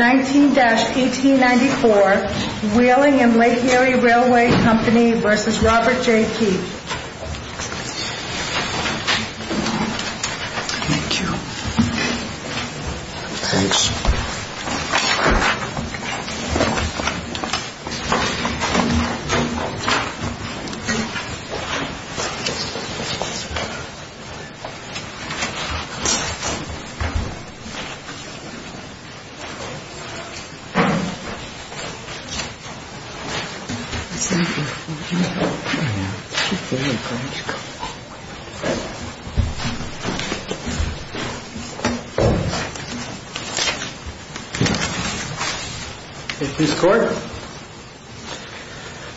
19-1894 Wheeling & Lake Erie Railway Co. v. Robert J. Keach Thank you. Thanks.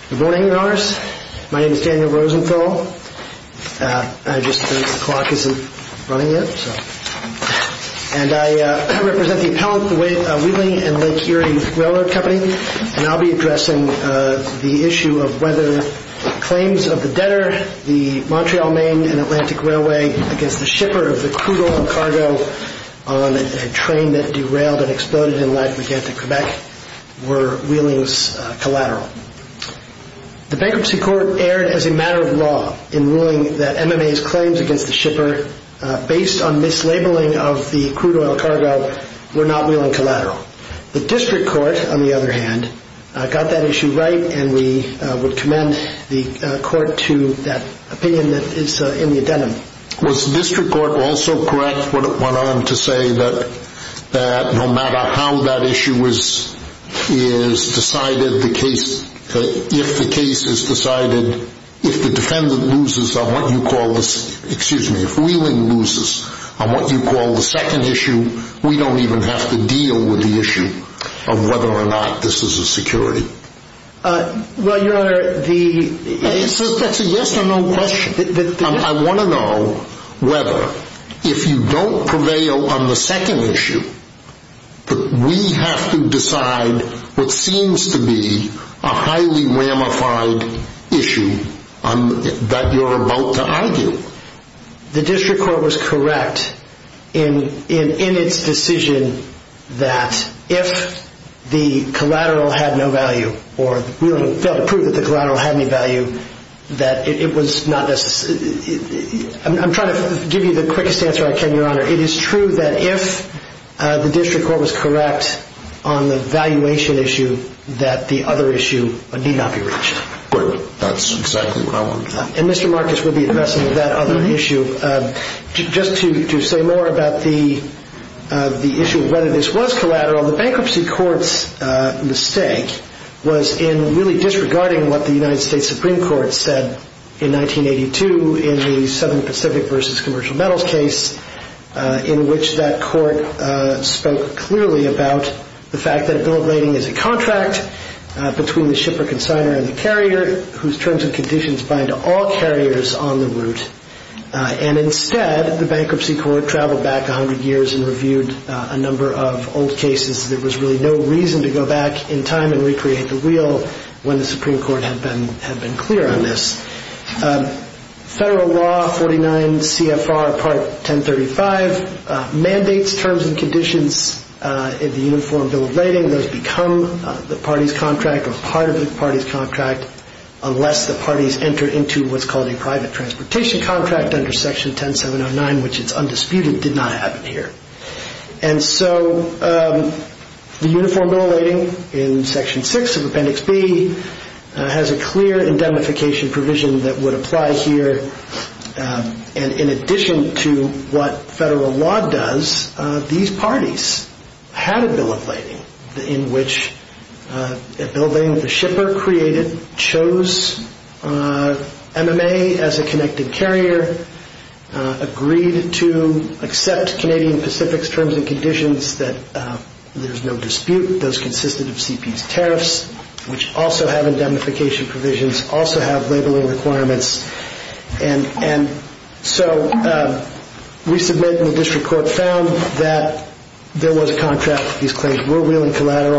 Good morning, your honors. My name is Daniel Rosenthal. I just think the clock isn't running yet. I represent the appellate of the Wheeling & Lake Erie Railway Company and I will be addressing the issue of whether claims of the debtor, the Montreal, Maine & Atlantic Railway, against the shipper of the crude oil cargo on a train that derailed and exploded in Lac-Megantic, Quebec were Wheeling's collateral. The Bankruptcy Court erred as a matter of law in ruling that MMA's claims against the shipper, based on mislabeling of the crude oil cargo, were not Wheeling's collateral. The District Court, on the other hand, got that issue right and we would commend the court to that opinion that is in the addendum. Was the District Court also correct when it went on to say that no matter how that issue is decided, if the case is decided, if the defendant loses, excuse me, if Wheeling loses on what you call the second issue, we don't even have to deal with the issue of whether or not this is a security. Well, your honor, the... That's a yes or no question. I want to know whether, if you don't prevail on the second issue, that we have to decide what seems to be a highly ramified issue that you're about to argue. The District Court was correct in its decision that if the collateral had no value, or Wheeling failed to prove that the collateral had any value, that it was not... I'm trying to give you the quickest answer I can, your honor. It is true that if the District Court was correct on the valuation issue, that the other issue need not be reached. That's exactly what I want to know. And Mr. Marcus will be addressing that other issue. Just to say more about the issue of whether this was collateral, the bankruptcy court's mistake was in really disregarding what the United States Supreme Court said in 1982 in the Southern Pacific v. Commercial Metals case, in which that court spoke clearly about the fact that a bill of lading is a contract between the shipper consigner and the carrier, whose terms and conditions bind all carriers on the route. And instead, the bankruptcy court traveled back a hundred years and reviewed a number of old cases. There was really no reason to go back in time and recreate the wheel when the Supreme Court had been clear on this. Federal Law 49 CFR Part 1035 mandates terms and conditions in the uniform bill of lading become the party's contract or part of the party's contract unless the parties enter into what's called a private transportation contract under Section 10709, which is undisputed, but it did not happen here. And so the uniform bill of lading in Section 6 of Appendix B has a clear indemnification provision that would apply here. And in addition to what federal law does, these parties had a bill of lading in which a bill of lading that the shipper created chose MMA as a connected carrier, agreed to accept Canadian Pacific's terms and conditions that there's no dispute, those consisted of CP's tariffs, which also have indemnification provisions, also have labeling requirements. And so we submit and the district court found that there was a contract, these claims were cases are really inapposite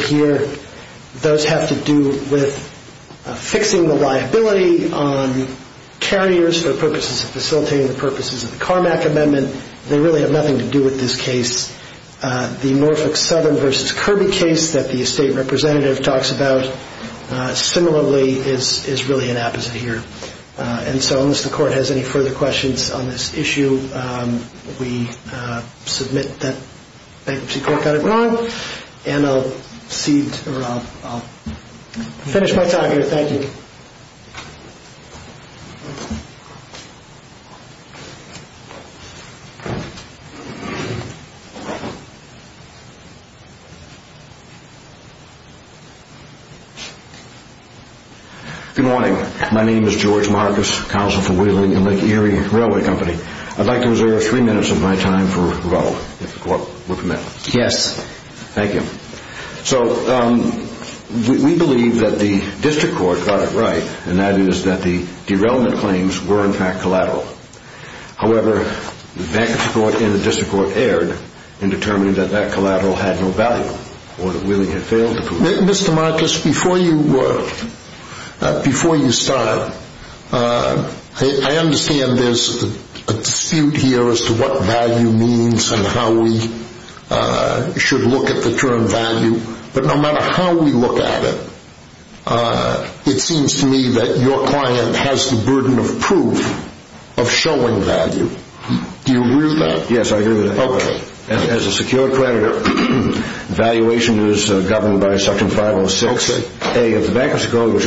here. Those have to do with fixing the liability on carriers for purposes of facilitating the purposes of the Carmack Amendment. They really have nothing to do with this case. The Norfolk Southern versus Kirby case that the estate representative talks about similarly is really inapposite here. And so unless the court has any further questions on this issue, we submit that bankruptcy court got it wrong and I'll finish my talk here. Thank you. Good morning. My name is George Marcus, counsel for Wheeling and Lake Erie Railway Company. I'd like to reserve three minutes of my time for rebuttal, if the court would permit. Yes. Thank you. So we believe that the district court got it right and that is that the derailment claims were in fact collateral. However, the bankruptcy court and the district court erred in determining that that collateral had no value or that Wheeling had failed to prove it. Mr. Marcus, before you start, I understand there's a dispute here as to what value means and how we should look at the term value. But no matter how we look at it, it seems to me that your client has the burden of proof of showing value. Do you agree with that? Yes, I agree with that. Okay. As a secured creditor, valuation is governed by section 506A of the bankruptcy code which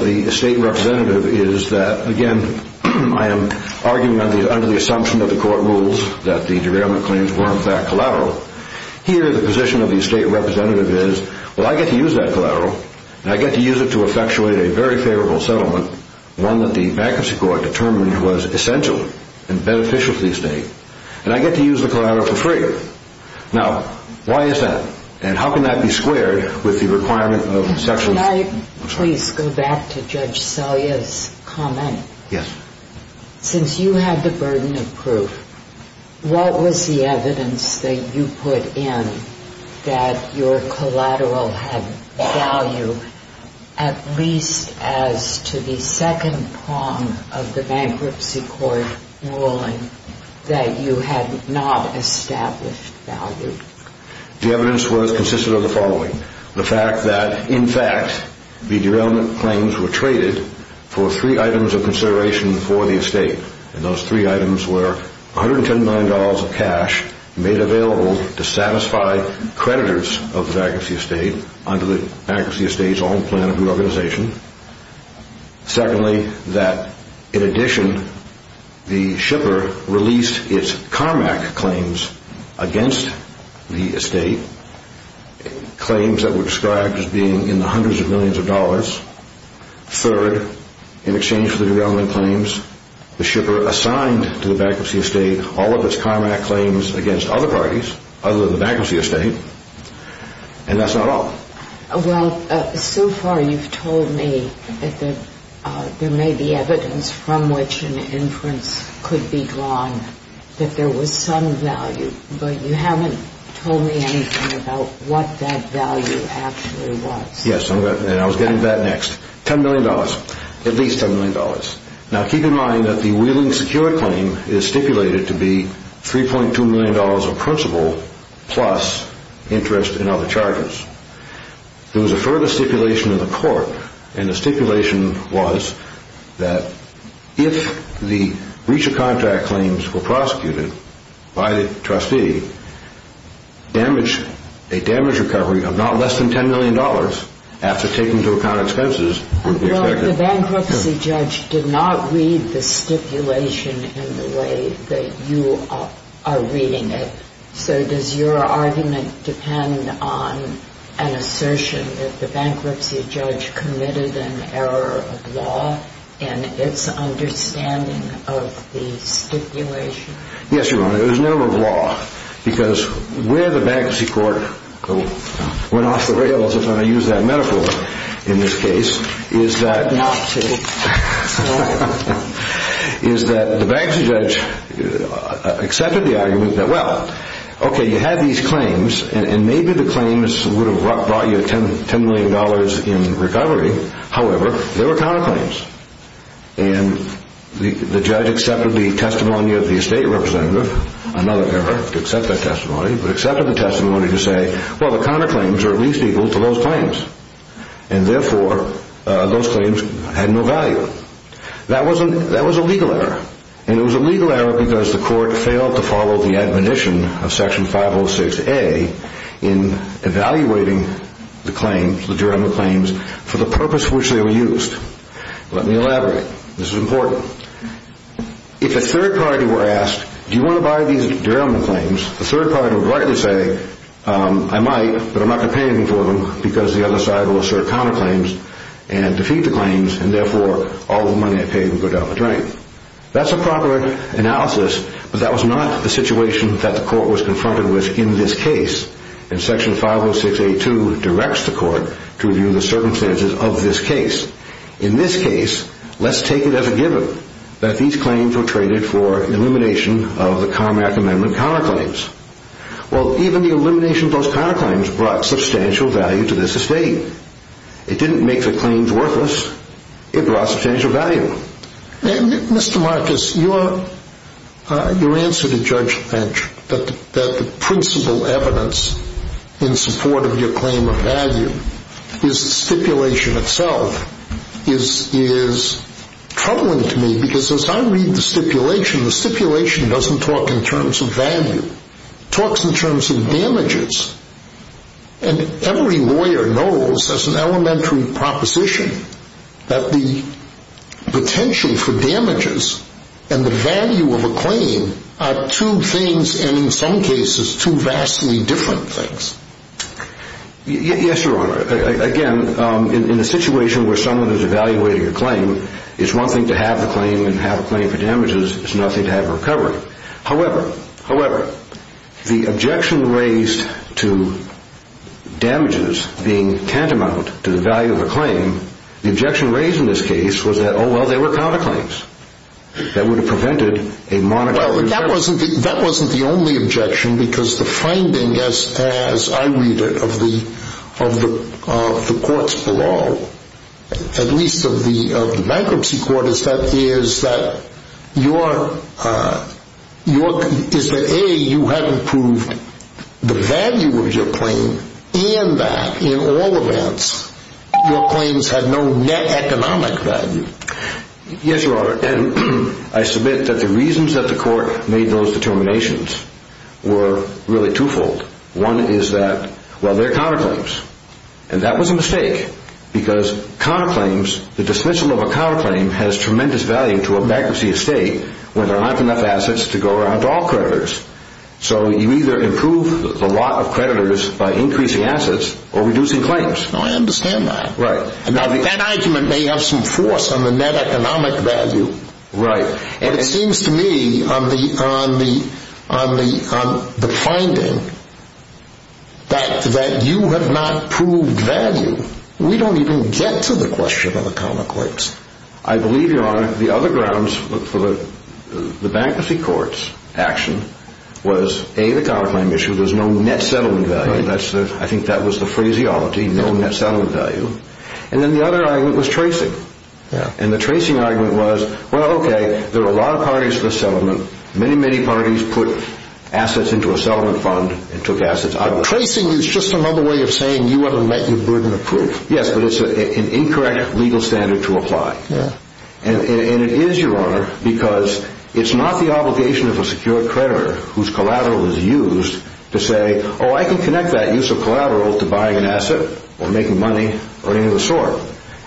the state representative is that, again, I am arguing under the assumption that the court rules that the derailment claims were in fact collateral. Here the position of the state representative is, well, I get to use that collateral and I get to use it to effectuate a very favorable settlement, one that the bankruptcy court determined was essential and beneficial to the state. And I get to use the collateral for free. Now, why is that? And how can that be squared with the requirement of section... Can I please go back to Judge Salyer's comment? Yes. Since you had the burden of proof, what was the evidence that you put in that your collateral had value at least as to the second prong of the bankruptcy court ruling that you had not established value? The evidence was consistent of the following. The fact that, in fact, the derailment claims were traded for three items of consideration for the estate. And those three items were $119 of cash made available to satisfy creditors of the bankruptcy estate under the bankruptcy estate's own plan of reorganization. Secondly, that, in addition, the shipper released its CARMAC claims against the estate, claims that were described as being in the hundreds of millions of dollars. Third, in exchange for the derailment claims, the shipper assigned to the bankruptcy estate all of its CARMAC claims against other parties other than the bankruptcy estate. And that's not all. Well, so far you've told me that there may be evidence from which an inference could be drawn that there was some value, but you haven't told me anything about what that value actually was. Yes, and I was getting to that next. $10 million. At least $10 million. Now, keep in mind that the Wheeling Secure claim is stipulated to be $3.2 million of principal plus interest in other charges. There was a further stipulation in the court, and the stipulation was that if the breach of contract claims were prosecuted by the trustee, a damage recovery of not less than $10 million after taking into account expenses would be expected. Well, the bankruptcy judge did not read the stipulation in the way that you are reading it. So does your argument depend on an assertion that the bankruptcy judge committed an error of law in its understanding of the stipulation? Yes, Your Honor, it was an error of law, because where the bankruptcy court went off the rails, if I may use that metaphor in this case, is that the bankruptcy judge accepted the argument that, well, okay, you have these claims, and maybe the claims would have brought you $10 million in recovery. However, there were counterclaims, and the judge accepted the testimony of the estate representative, another error to accept that testimony, but accepted the testimony to say, well, the counterclaims are at least equal to those claims, and therefore those claims had no value. That was a legal error, and it was a legal error because the for the purpose for which they were used. Let me elaborate. This is important. If a third party were asked, do you want to buy these derailment claims, the third party would rightly say, I might, but I'm not going to pay anything for them, because the other side will assert counterclaims and defeat the claims, and therefore all the money I paid would go down the drain. That's a proper analysis, but that was not the situation that the court was confronted with in this case, and Section 506A2 directs the court to review the circumstances of this case. In this case, let's take it as a given that these claims were traded for elimination of the Comack Amendment counterclaims. Well, even the elimination of those counterclaims brought substantial value to this estate. It didn't make the claims worthless. It brought substantial value. Mr. Marcus, your answer to Judge Lynch, that the principal evidence in support of your claim of value is the stipulation itself, is troubling to me, because as I read the stipulation, the stipulation doesn't talk in terms of value. It talks in terms of damages, and every lawyer knows as an elementary proposition that the potential for damages and the value of a claim are two things, and in some cases, two vastly different things. Yes, Your Honor. Again, in a situation where someone is evaluating a claim, it's one thing to have a claim and have a claim for damages. It's another thing to have a recovery. However, however, the objection raised to damages being tantamount to the value of a claim, the objection raised in this case was that, oh, well, they were counterclaims. That would have prevented a monopoly. Well, that wasn't the only objection, because the finding, as I read it, of the courts below, at least of the bankruptcy court, is that A, you hadn't proved the value of your claim, and that in all events, your claims had no net economic value. Yes, Your Honor, and I submit that the reasons that the court made those determinations were really twofold. One is that, well, they're counterclaims, and that was a mistake, because counterclaims, the dismissal of a counterclaim has tremendous value to a bankruptcy estate when there aren't enough assets to go around to all creditors. So you either improve the lot of creditors by increasing assets or reducing claims. Oh, I understand that. Right. Now, that argument may have some force on the net economic value. Right. And it seems to me, on the finding, that you have not proved value. We don't even get to the question of the counterclaims. I believe, Your Honor, the other grounds for the bankruptcy court's action was, A, the counterclaim issue, there's no net settlement value. I think that was the phraseology, no net settlement value. And then the other argument was tracing. Yeah. And the tracing argument was, well, okay, there are a lot of parties to the settlement. Many, many parties put assets into a settlement fund and took assets out. Tracing is just another way of saying you want to let your burden of proof. Yes, but it's an incorrect legal standard to apply. Yeah. And it is, Your Honor, because it's not the obligation of a secured creditor whose collateral is used to say, oh, I can connect that use of collateral to buying an asset or making money or any of the sort.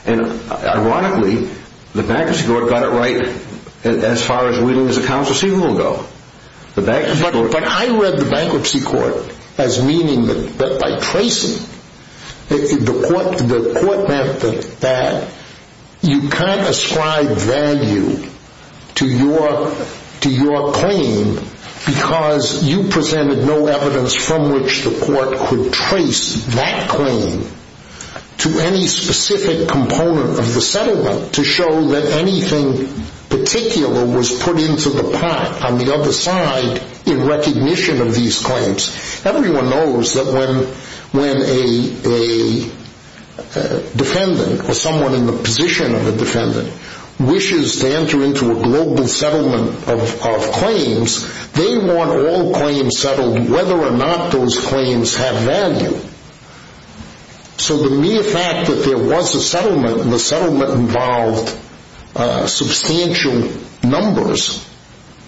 And ironically, the bankruptcy court got it right as far as reading his accounts receivable go. But I read the bankruptcy court as meaning that by tracing, the court meant that you can't ascribe value to your claim because you presented no evidence from which the court could trace that claim to any specific component of the settlement to show that anything particular was put into the pot on the other side in recognition of these claims. Everyone knows that when a defendant or someone in the position of a defendant wishes to enter into a global settlement of claims, they want all claims settled whether or not those claims have value. So the mere fact that there was a settlement and the settlement involved substantial numbers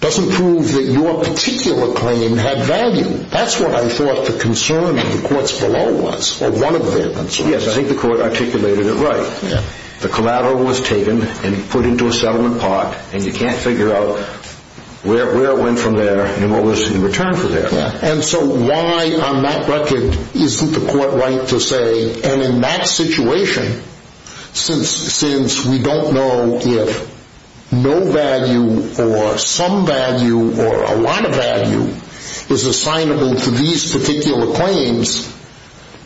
doesn't prove that your particular claim had value. That's what I thought the concern of the courts below was, or one of their concerns. Yes, I think the court articulated it right. The collateral was taken and put into a settlement pot, and you can't figure out where it went from there and what was in return for that. And so why on that record isn't the court right to say, and in that situation, since we don't know if no value or some value or a lot of value is assignable to these particular claims,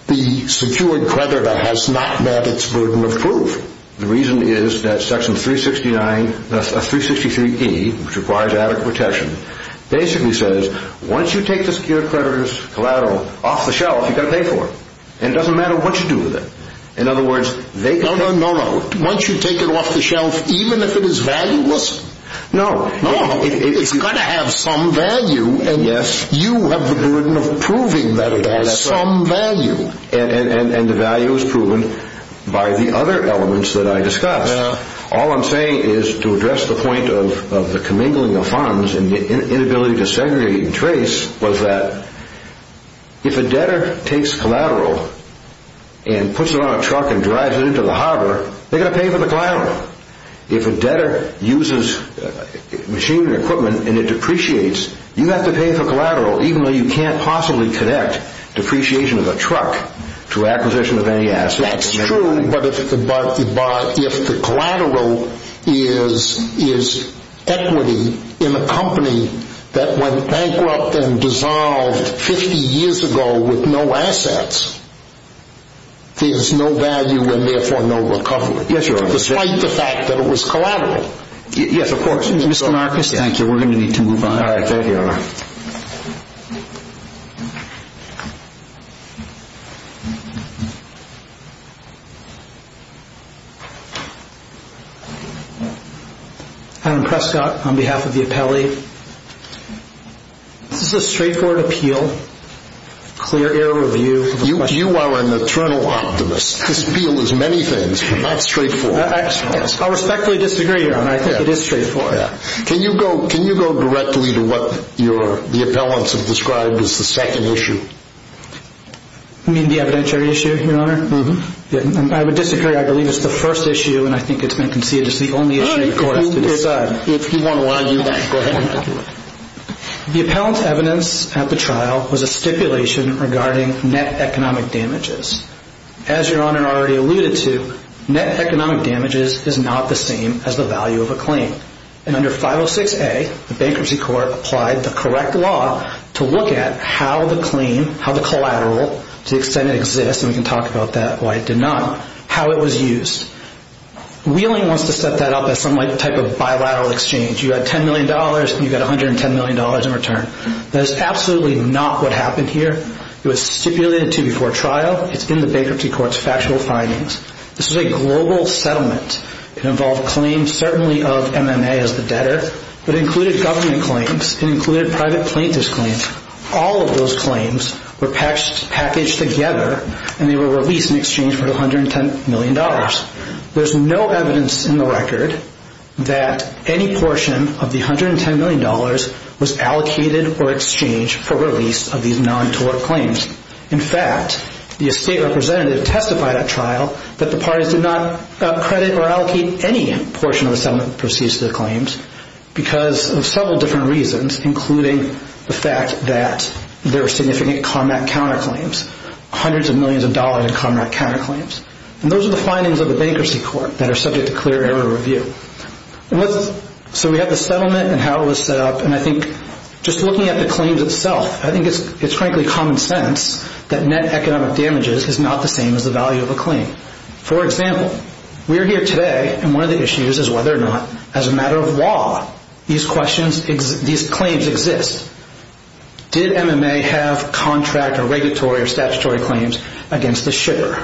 the secured creditor has not met its burden of proof. The reason is that Section 363E, which requires adequate protection, basically says once you take the secured creditor's collateral off the shelf, you've got to pay for it. And it doesn't matter what you do with it. No, no, no. Once you take it off the shelf, even if it is valueless, it's got to have some value, and you have the burden of proving that it has some value. And the value is proven by the other elements that I discussed. All I'm saying is to address the point of the commingling of funds and the inability to segregate and trace was that if a debtor takes collateral and puts it on a truck and drives it into the harbor, they're going to pay for the collateral. If a debtor uses machinery and equipment and it depreciates, you have to pay for collateral, even though you can't possibly connect depreciation of a truck to acquisition of any asset. That's true, but if the collateral is equity in a company that went bankrupt and dissolved 50 years ago with no assets, there's no value and therefore no recovery, despite the fact that it was collateral. Yes, of course. Mr. Marcus, thank you. We're going to need to move on. All right, there you are. Adam Prescott, on behalf of the appellee. This is a straightforward appeal, clear error review. You are an eternal optimist. This appeal is many things, but not straightforward. I respectfully disagree, Your Honor. I think it is straightforward. Can you go directly to what the appellants have described as the second issue? You mean the evidentiary issue, Your Honor? I would disagree. I believe it's the first issue and I think it's been conceded as the only issue for us to decide. If you want to argue that, go ahead. The appellant's evidence at the trial was a stipulation regarding net economic damages. As Your Honor already alluded to, net economic damages is not the same as the value of a claim. Under 506A, the bankruptcy court applied the correct law to look at how the claim, how the collateral, to the extent it exists, and we can talk about that, why it did not, how it was used. Wheeling wants to set that up as some type of bilateral exchange. You had $10 million and you got $110 million in return. That is absolutely not what happened here. It was stipulated to before trial. It's in the bankruptcy court's factual findings. This was a global settlement. It involved claims certainly of MMA as the debtor, but it included government claims. It included private plaintiff's claims. All of those claims were packaged together and they were released in exchange for $110 million. There's no evidence in the record that any portion of the $110 million was allocated or exchanged for release of these non-tort claims. In fact, the estate representative testified at trial that the parties did not credit or allocate any portion of the settlement proceeds to the claims because of several different reasons, including the fact that there were significant combat counterclaims, hundreds of millions of dollars in combat counterclaims. Those are the findings of the bankruptcy court that are subject to clear error review. We have the settlement and how it was set up. Just looking at the claims itself, I think it's frankly common sense that net economic damages is not the same as the value of a claim. For example, we are here today and one of the issues is whether or not, as a matter of law, these claims exist. Did MMA have contract or regulatory or statutory claims against the sugar?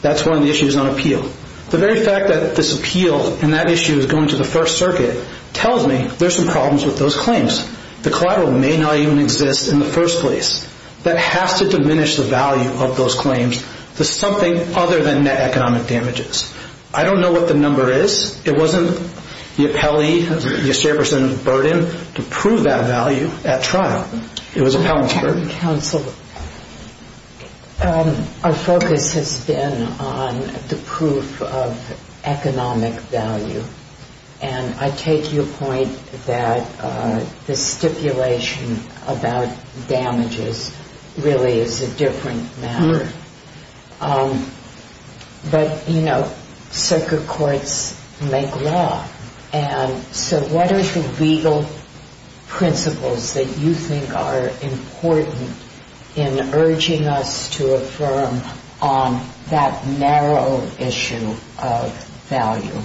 That's one of the issues on appeal. The very fact that this appeal and that issue is going to the First Circuit tells me there's some problems with those claims. The collateral may not even exist in the first place. That has to diminish the value of those claims to something other than net economic damages. I don't know what the number is. It wasn't the appellee, the state person's burden to prove that value at trial. It was the appellant's burden. Counsel, our focus has been on the proof of economic value. I take your point that the stipulation about damages really is a different matter. But, you know, circuit courts make law, and so what are the legal principles that you think are important in urging us to affirm on that narrow issue of value?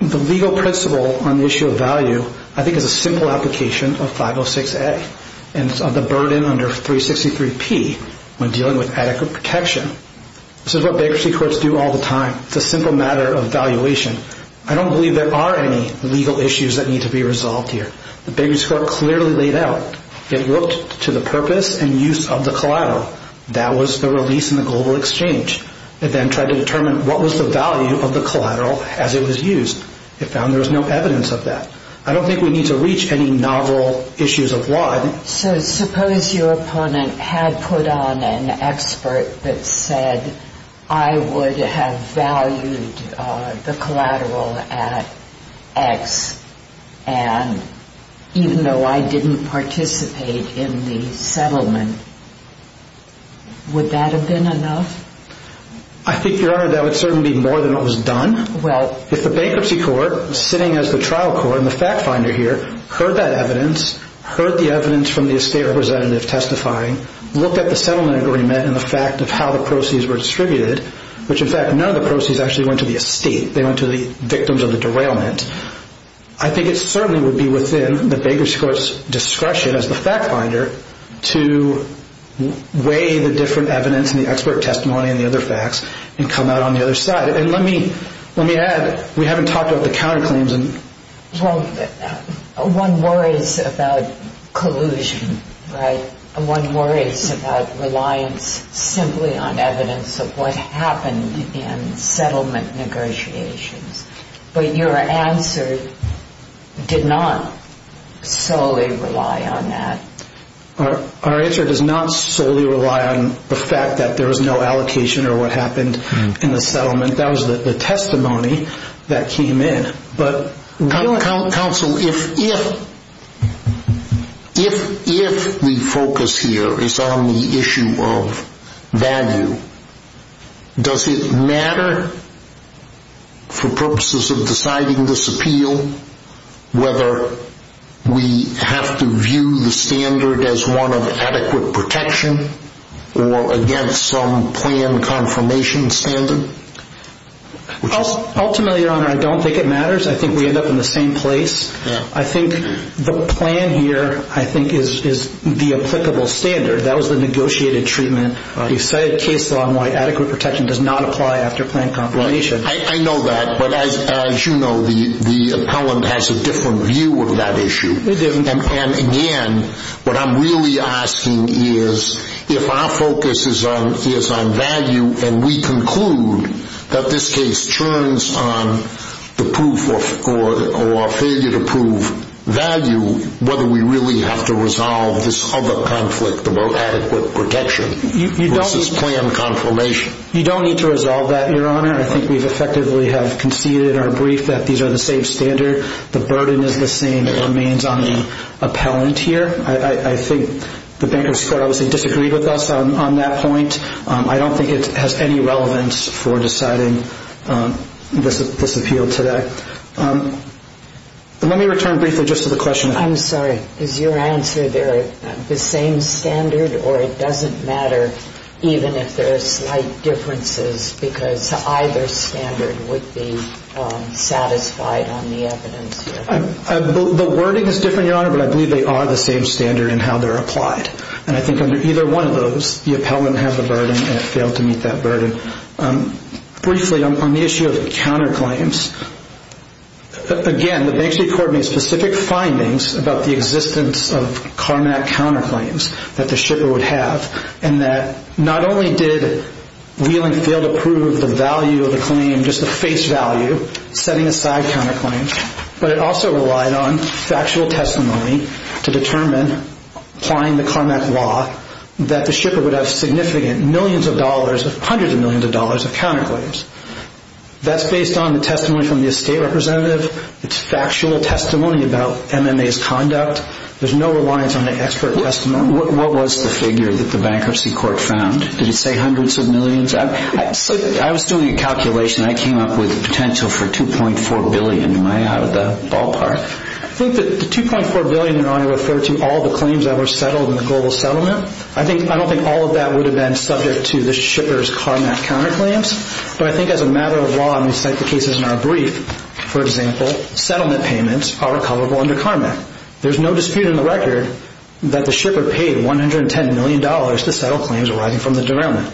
The legal principle on the issue of value, I think, is a simple application of 506A and the burden under 363P when dealing with adequate protection. This is what bankruptcy courts do all the time. It's a simple matter of valuation. I don't believe there are any legal issues that need to be resolved here. The bankruptcy court clearly laid out. It looked to the purpose and use of the collateral. That was the release in the global exchange. It then tried to determine what was the value of the collateral as it was used. It found there was no evidence of that. I don't think we need to reach any novel issues of law. So suppose your opponent had put on an expert that said, I would have valued the collateral at X, and even though I didn't participate in the settlement, would that have been enough? I think, Your Honor, that would certainly be more than what was done. Well, if the bankruptcy court sitting as the trial court and the fact finder here heard that evidence, heard the evidence from the estate representative testifying, looked at the settlement agreement and the fact of how the proceeds were distributed, which in fact none of the proceeds actually went to the estate. They went to the victims of the derailment. I think it certainly would be within the bankruptcy court's discretion as the fact finder to weigh the different evidence and the expert testimony and the other facts and come out on the other side. And let me add, we haven't talked about the counterclaims. Well, one worries about collusion, right? One worries about reliance simply on evidence of what happened in settlement negotiations. But your answer did not solely rely on that. Our answer does not solely rely on the fact that there was no allocation or what happened in the settlement. That was the testimony that came in. Counsel, if the focus here is on the issue of value, does it matter for purposes of deciding this appeal whether we have to view the standard as one of adequate protection or against some plan confirmation standard? Ultimately, Your Honor, I don't think it matters. I think we end up in the same place. I think the plan here, I think, is the applicable standard. That was the negotiated treatment. We've set a case law on why adequate protection does not apply after plan confirmation. I know that. But as you know, the appellant has a different view of that issue. And again, what I'm really asking is if our focus is on value and we conclude that this case turns on the proof or failure to prove value, whether we really have to resolve this other conflict about adequate protection versus plan confirmation. You don't need to resolve that, Your Honor. I think we effectively have conceded in our brief that these are the same standard. The burden is the same. It remains on the appellant here. I think the bankruptcy court obviously disagreed with us on that point. I don't think it has any relevance for deciding this appeal today. Let me return briefly just to the question. I'm sorry. Is your answer they're the same standard or it doesn't matter even if there are slight differences because either standard would be satisfied on the evidence? The wording is different, Your Honor, but I believe they are the same standard in how they're applied. And I think under either one of those, the appellant has a burden and failed to meet that burden. Briefly, on the issue of counterclaims, again, the bankruptcy court made specific findings about the existence of CARMAC counterclaims that the shipper would have and that not only did Wheeling fail to prove the value of the claim, just the face value, setting aside counterclaims, but it also relied on factual testimony to determine applying the CARMAC law that the shipper would have significant millions of dollars, hundreds of millions of dollars of counterclaims. That's based on the testimony from the estate representative. It's factual testimony about MMA's conduct. There's no reliance on the expert testimony. What was the figure that the bankruptcy court found? Did it say hundreds of millions? I was doing a calculation. I came up with potential for $2.4 billion. Am I out of the ballpark? I think that the $2.4 billion, Your Honor, referred to all the claims that were settled in the global settlement. I don't think all of that would have been subject to the shipper's CARMAC counterclaims, but I think as a matter of law, and we cite the cases in our brief, for example, settlement payments are recoverable under CARMAC. There's no dispute in the record that the shipper paid $110 million to settle claims arising from the derailment.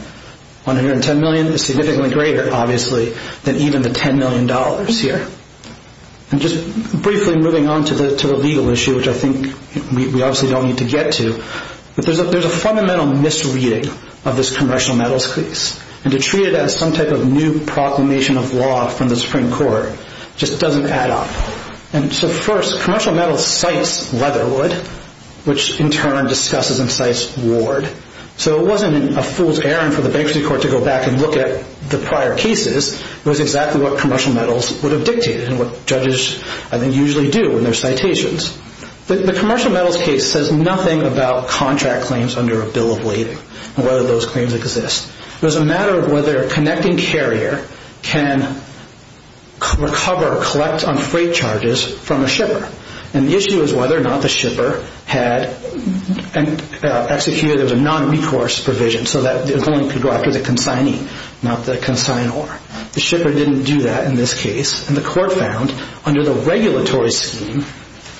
$110 million is significantly greater, obviously, than even the $10 million here. And just briefly moving on to the legal issue, which I think we obviously don't need to get to, but there's a fundamental misreading of this commercial metals case, and to treat it as some type of new proclamation of law from the Supreme Court just doesn't add up. First, commercial metals cites Leatherwood, which in turn discusses and cites Ward. So it wasn't a fool's errand for the bankruptcy court to go back and look at the prior cases. It was exactly what commercial metals would have dictated and what judges usually do in their citations. The commercial metals case says nothing about contract claims under a bill of lading and whether those claims exist. It was a matter of whether a connecting carrier can recover, collect on freight charges from a shipper. And the issue is whether or not the shipper had executed a non-recourse provision so that the claim could go after the consigning, not the consignor. The shipper didn't do that in this case, and the court found under the regulatory scheme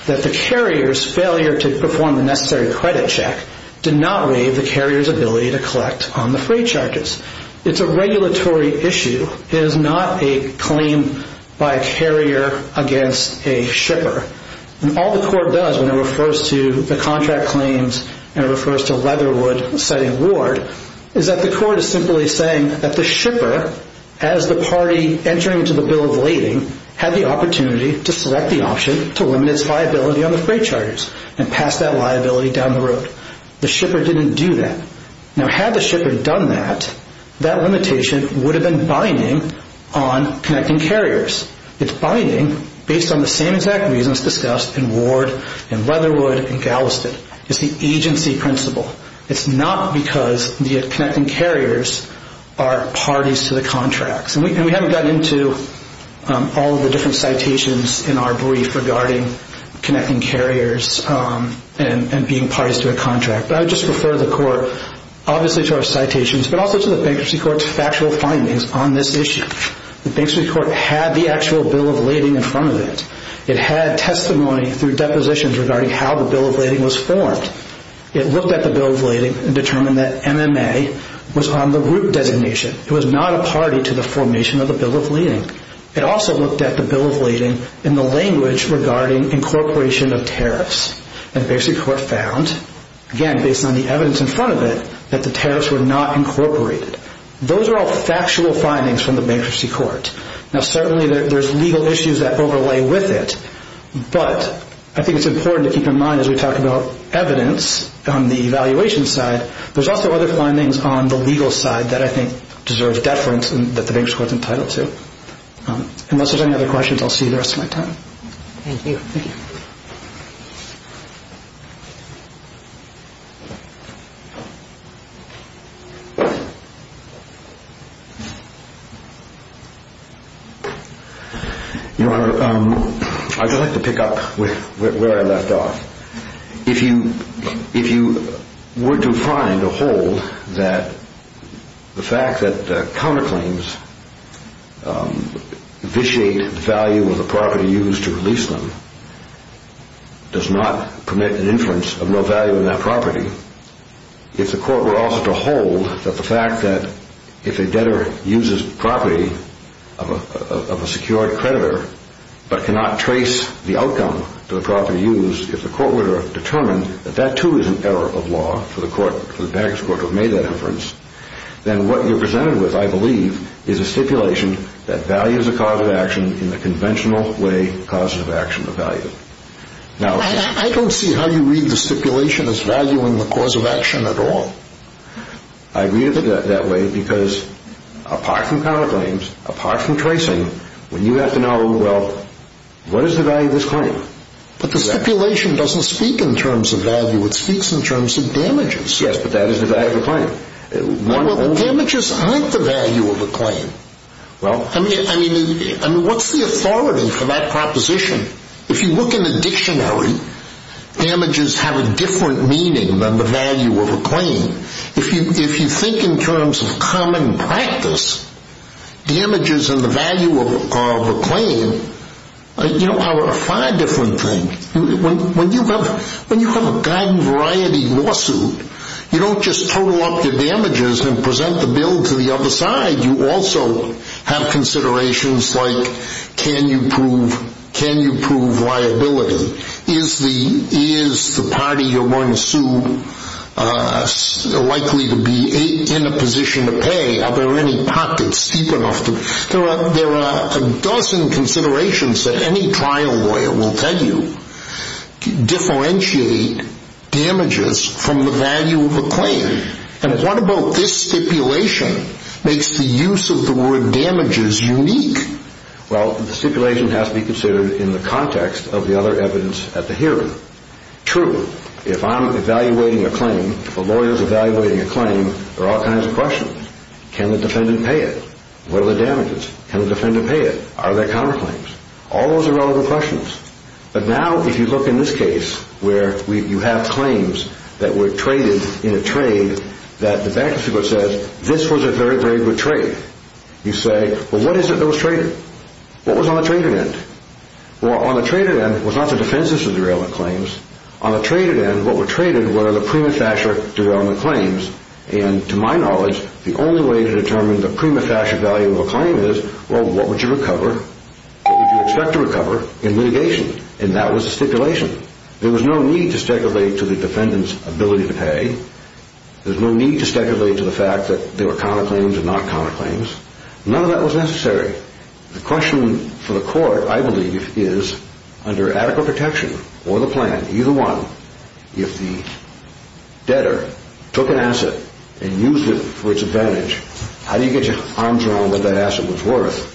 that the carrier's failure to perform the necessary credit check did not waive the carrier's ability to collect on the freight charges. It's a regulatory issue. It is not a claim by a carrier against a shipper. And all the court does when it refers to the contract claims and it refers to Leatherwood citing Ward is that the court is simply saying that the shipper, as the party entering into the bill of lading, had the opportunity to select the option to limit its liability on the freight charges and pass that liability down the road. The shipper didn't do that. Now, had the shipper done that, that limitation would have been binding on connecting carriers. It's binding based on the same exact reasons discussed in Ward and Leatherwood and Galveston. It's the agency principle. It's not because the connecting carriers are parties to the contracts. And we haven't gotten into all of the different citations in our brief regarding connecting carriers and being parties to a contract, but I would just refer the court obviously to our citations but also to the bankruptcy court's factual findings on this issue. The bankruptcy court had the actual bill of lading in front of it. It had testimony through depositions regarding how the bill of lading was formed. It looked at the bill of lading and determined that MMA was on the group designation. It was not a party to the formation of the bill of lading. It also looked at the bill of lading in the language regarding incorporation of tariffs. And the bankruptcy court found, again, based on the evidence in front of it, that the tariffs were not incorporated. Those are all factual findings from the bankruptcy court. Now, certainly there's legal issues that overlay with it, but I think it's important to keep in mind as we talk about evidence on the evaluation side, there's also other findings on the legal side that I think deserve deference and that the bankruptcy court's entitled to. Unless there's any other questions, I'll see you the rest of my time. Thank you. I'd just like to pick up where I left off. If you were to find a hold that the fact that counterclaims vitiate the value of the property used to release them does not permit an inference of no value in that property, if the court were also to hold that the fact that if a debtor uses property of a secured creditor but cannot trace the outcome to the property used, if the court were to determine that that, too, is an error of law for the bankruptcy court to have made that inference, then what you're presented with, I believe, is a stipulation that values a cause of action in the conventional way causes of action are valued. Now, I don't see how you read the stipulation as valuing the cause of action at all. I read it that way because apart from counterclaims, apart from tracing, when you have to know, well, what is the value of this claim? But the stipulation doesn't speak in terms of value. It speaks in terms of damages. Yes, but that is the value of a claim. Damages aren't the value of a claim. I mean, what's the authority for that proposition? If you look in the dictionary, damages have a different meaning than the value of a claim. If you think in terms of common practice, damages and the value of a claim are a far different thing. When you have a garden-variety lawsuit, you don't just total up your damages and present the bill to the other side. You also have considerations like can you prove liability? Is the party you're going to sue likely to be in a position to pay? Are there any pockets deep enough? There are a dozen considerations that any trial lawyer will tell you differentiate damages from the value of a claim. And what about this stipulation makes the use of the word damages unique? Well, the stipulation has to be considered in the context of the other evidence at the hearing. True, if I'm evaluating a claim, if a lawyer is evaluating a claim, there are all kinds of questions. Can the defendant pay it? What are the damages? Can the defendant pay it? Are there counterclaims? All those are relevant questions. But now if you look in this case where you have claims that were traded in a trade that the bankruptcy court says this was a very, very good trade. You say, well, what is it that was traded? What was on the traded end? Well, on the traded end was not the defenses of the derailment claims. On the traded end, what were traded were the prima facie derailment claims. And to my knowledge, the only way to determine the prima facie value of a claim is, well, what would you expect to recover in litigation? And that was the stipulation. There was no need to speculate to the defendant's ability to pay. There's no need to speculate to the fact that there were counterclaims and not counterclaims. None of that was necessary. The question for the court, I believe, is under adequate protection or the plan, either one, if the debtor took an asset and used it for its advantage, how do you get your arms around what that asset was worth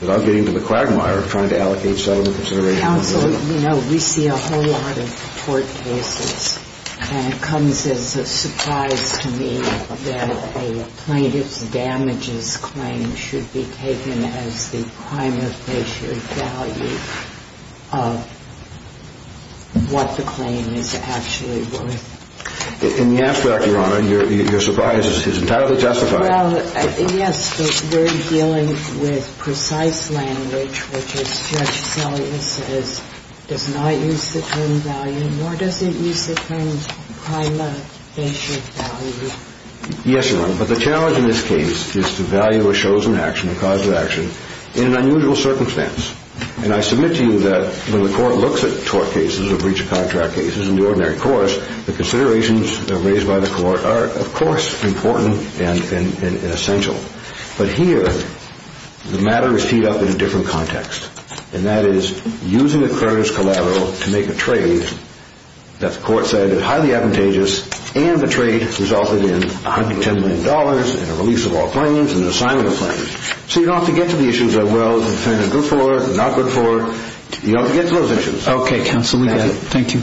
without getting into the quagmire of trying to allocate settlement consideration? Well, counsel, you know, we see a whole lot of court cases, and it comes as a surprise to me that a plaintiff's damages claim should be taken as the prima facie value of what the claim is actually worth. And yes, Your Honor, your surprise is entirely justified. Well, yes, but we're dealing with precise language, which is Judge Seligman says does not use the term value, nor does it use the term prima facie value. Yes, Your Honor, but the challenge in this case is to value a chosen action, a cause of action, in an unusual circumstance. And I submit to you that when the court looks at tort cases or breach of contract cases in the ordinary course, the considerations raised by the court are, of course, important and essential. But here the matter is teed up in a different context, and that is using a creditor's collateral to make a trade that the court said is highly advantageous, and the trade resulted in $110 million and a release of all claims and an assignment of claims. So you don't have to get to the issues of, well, the defendant is good for or not good for. You don't have to get to those issues. Okay, counsel, we got it. Thank you.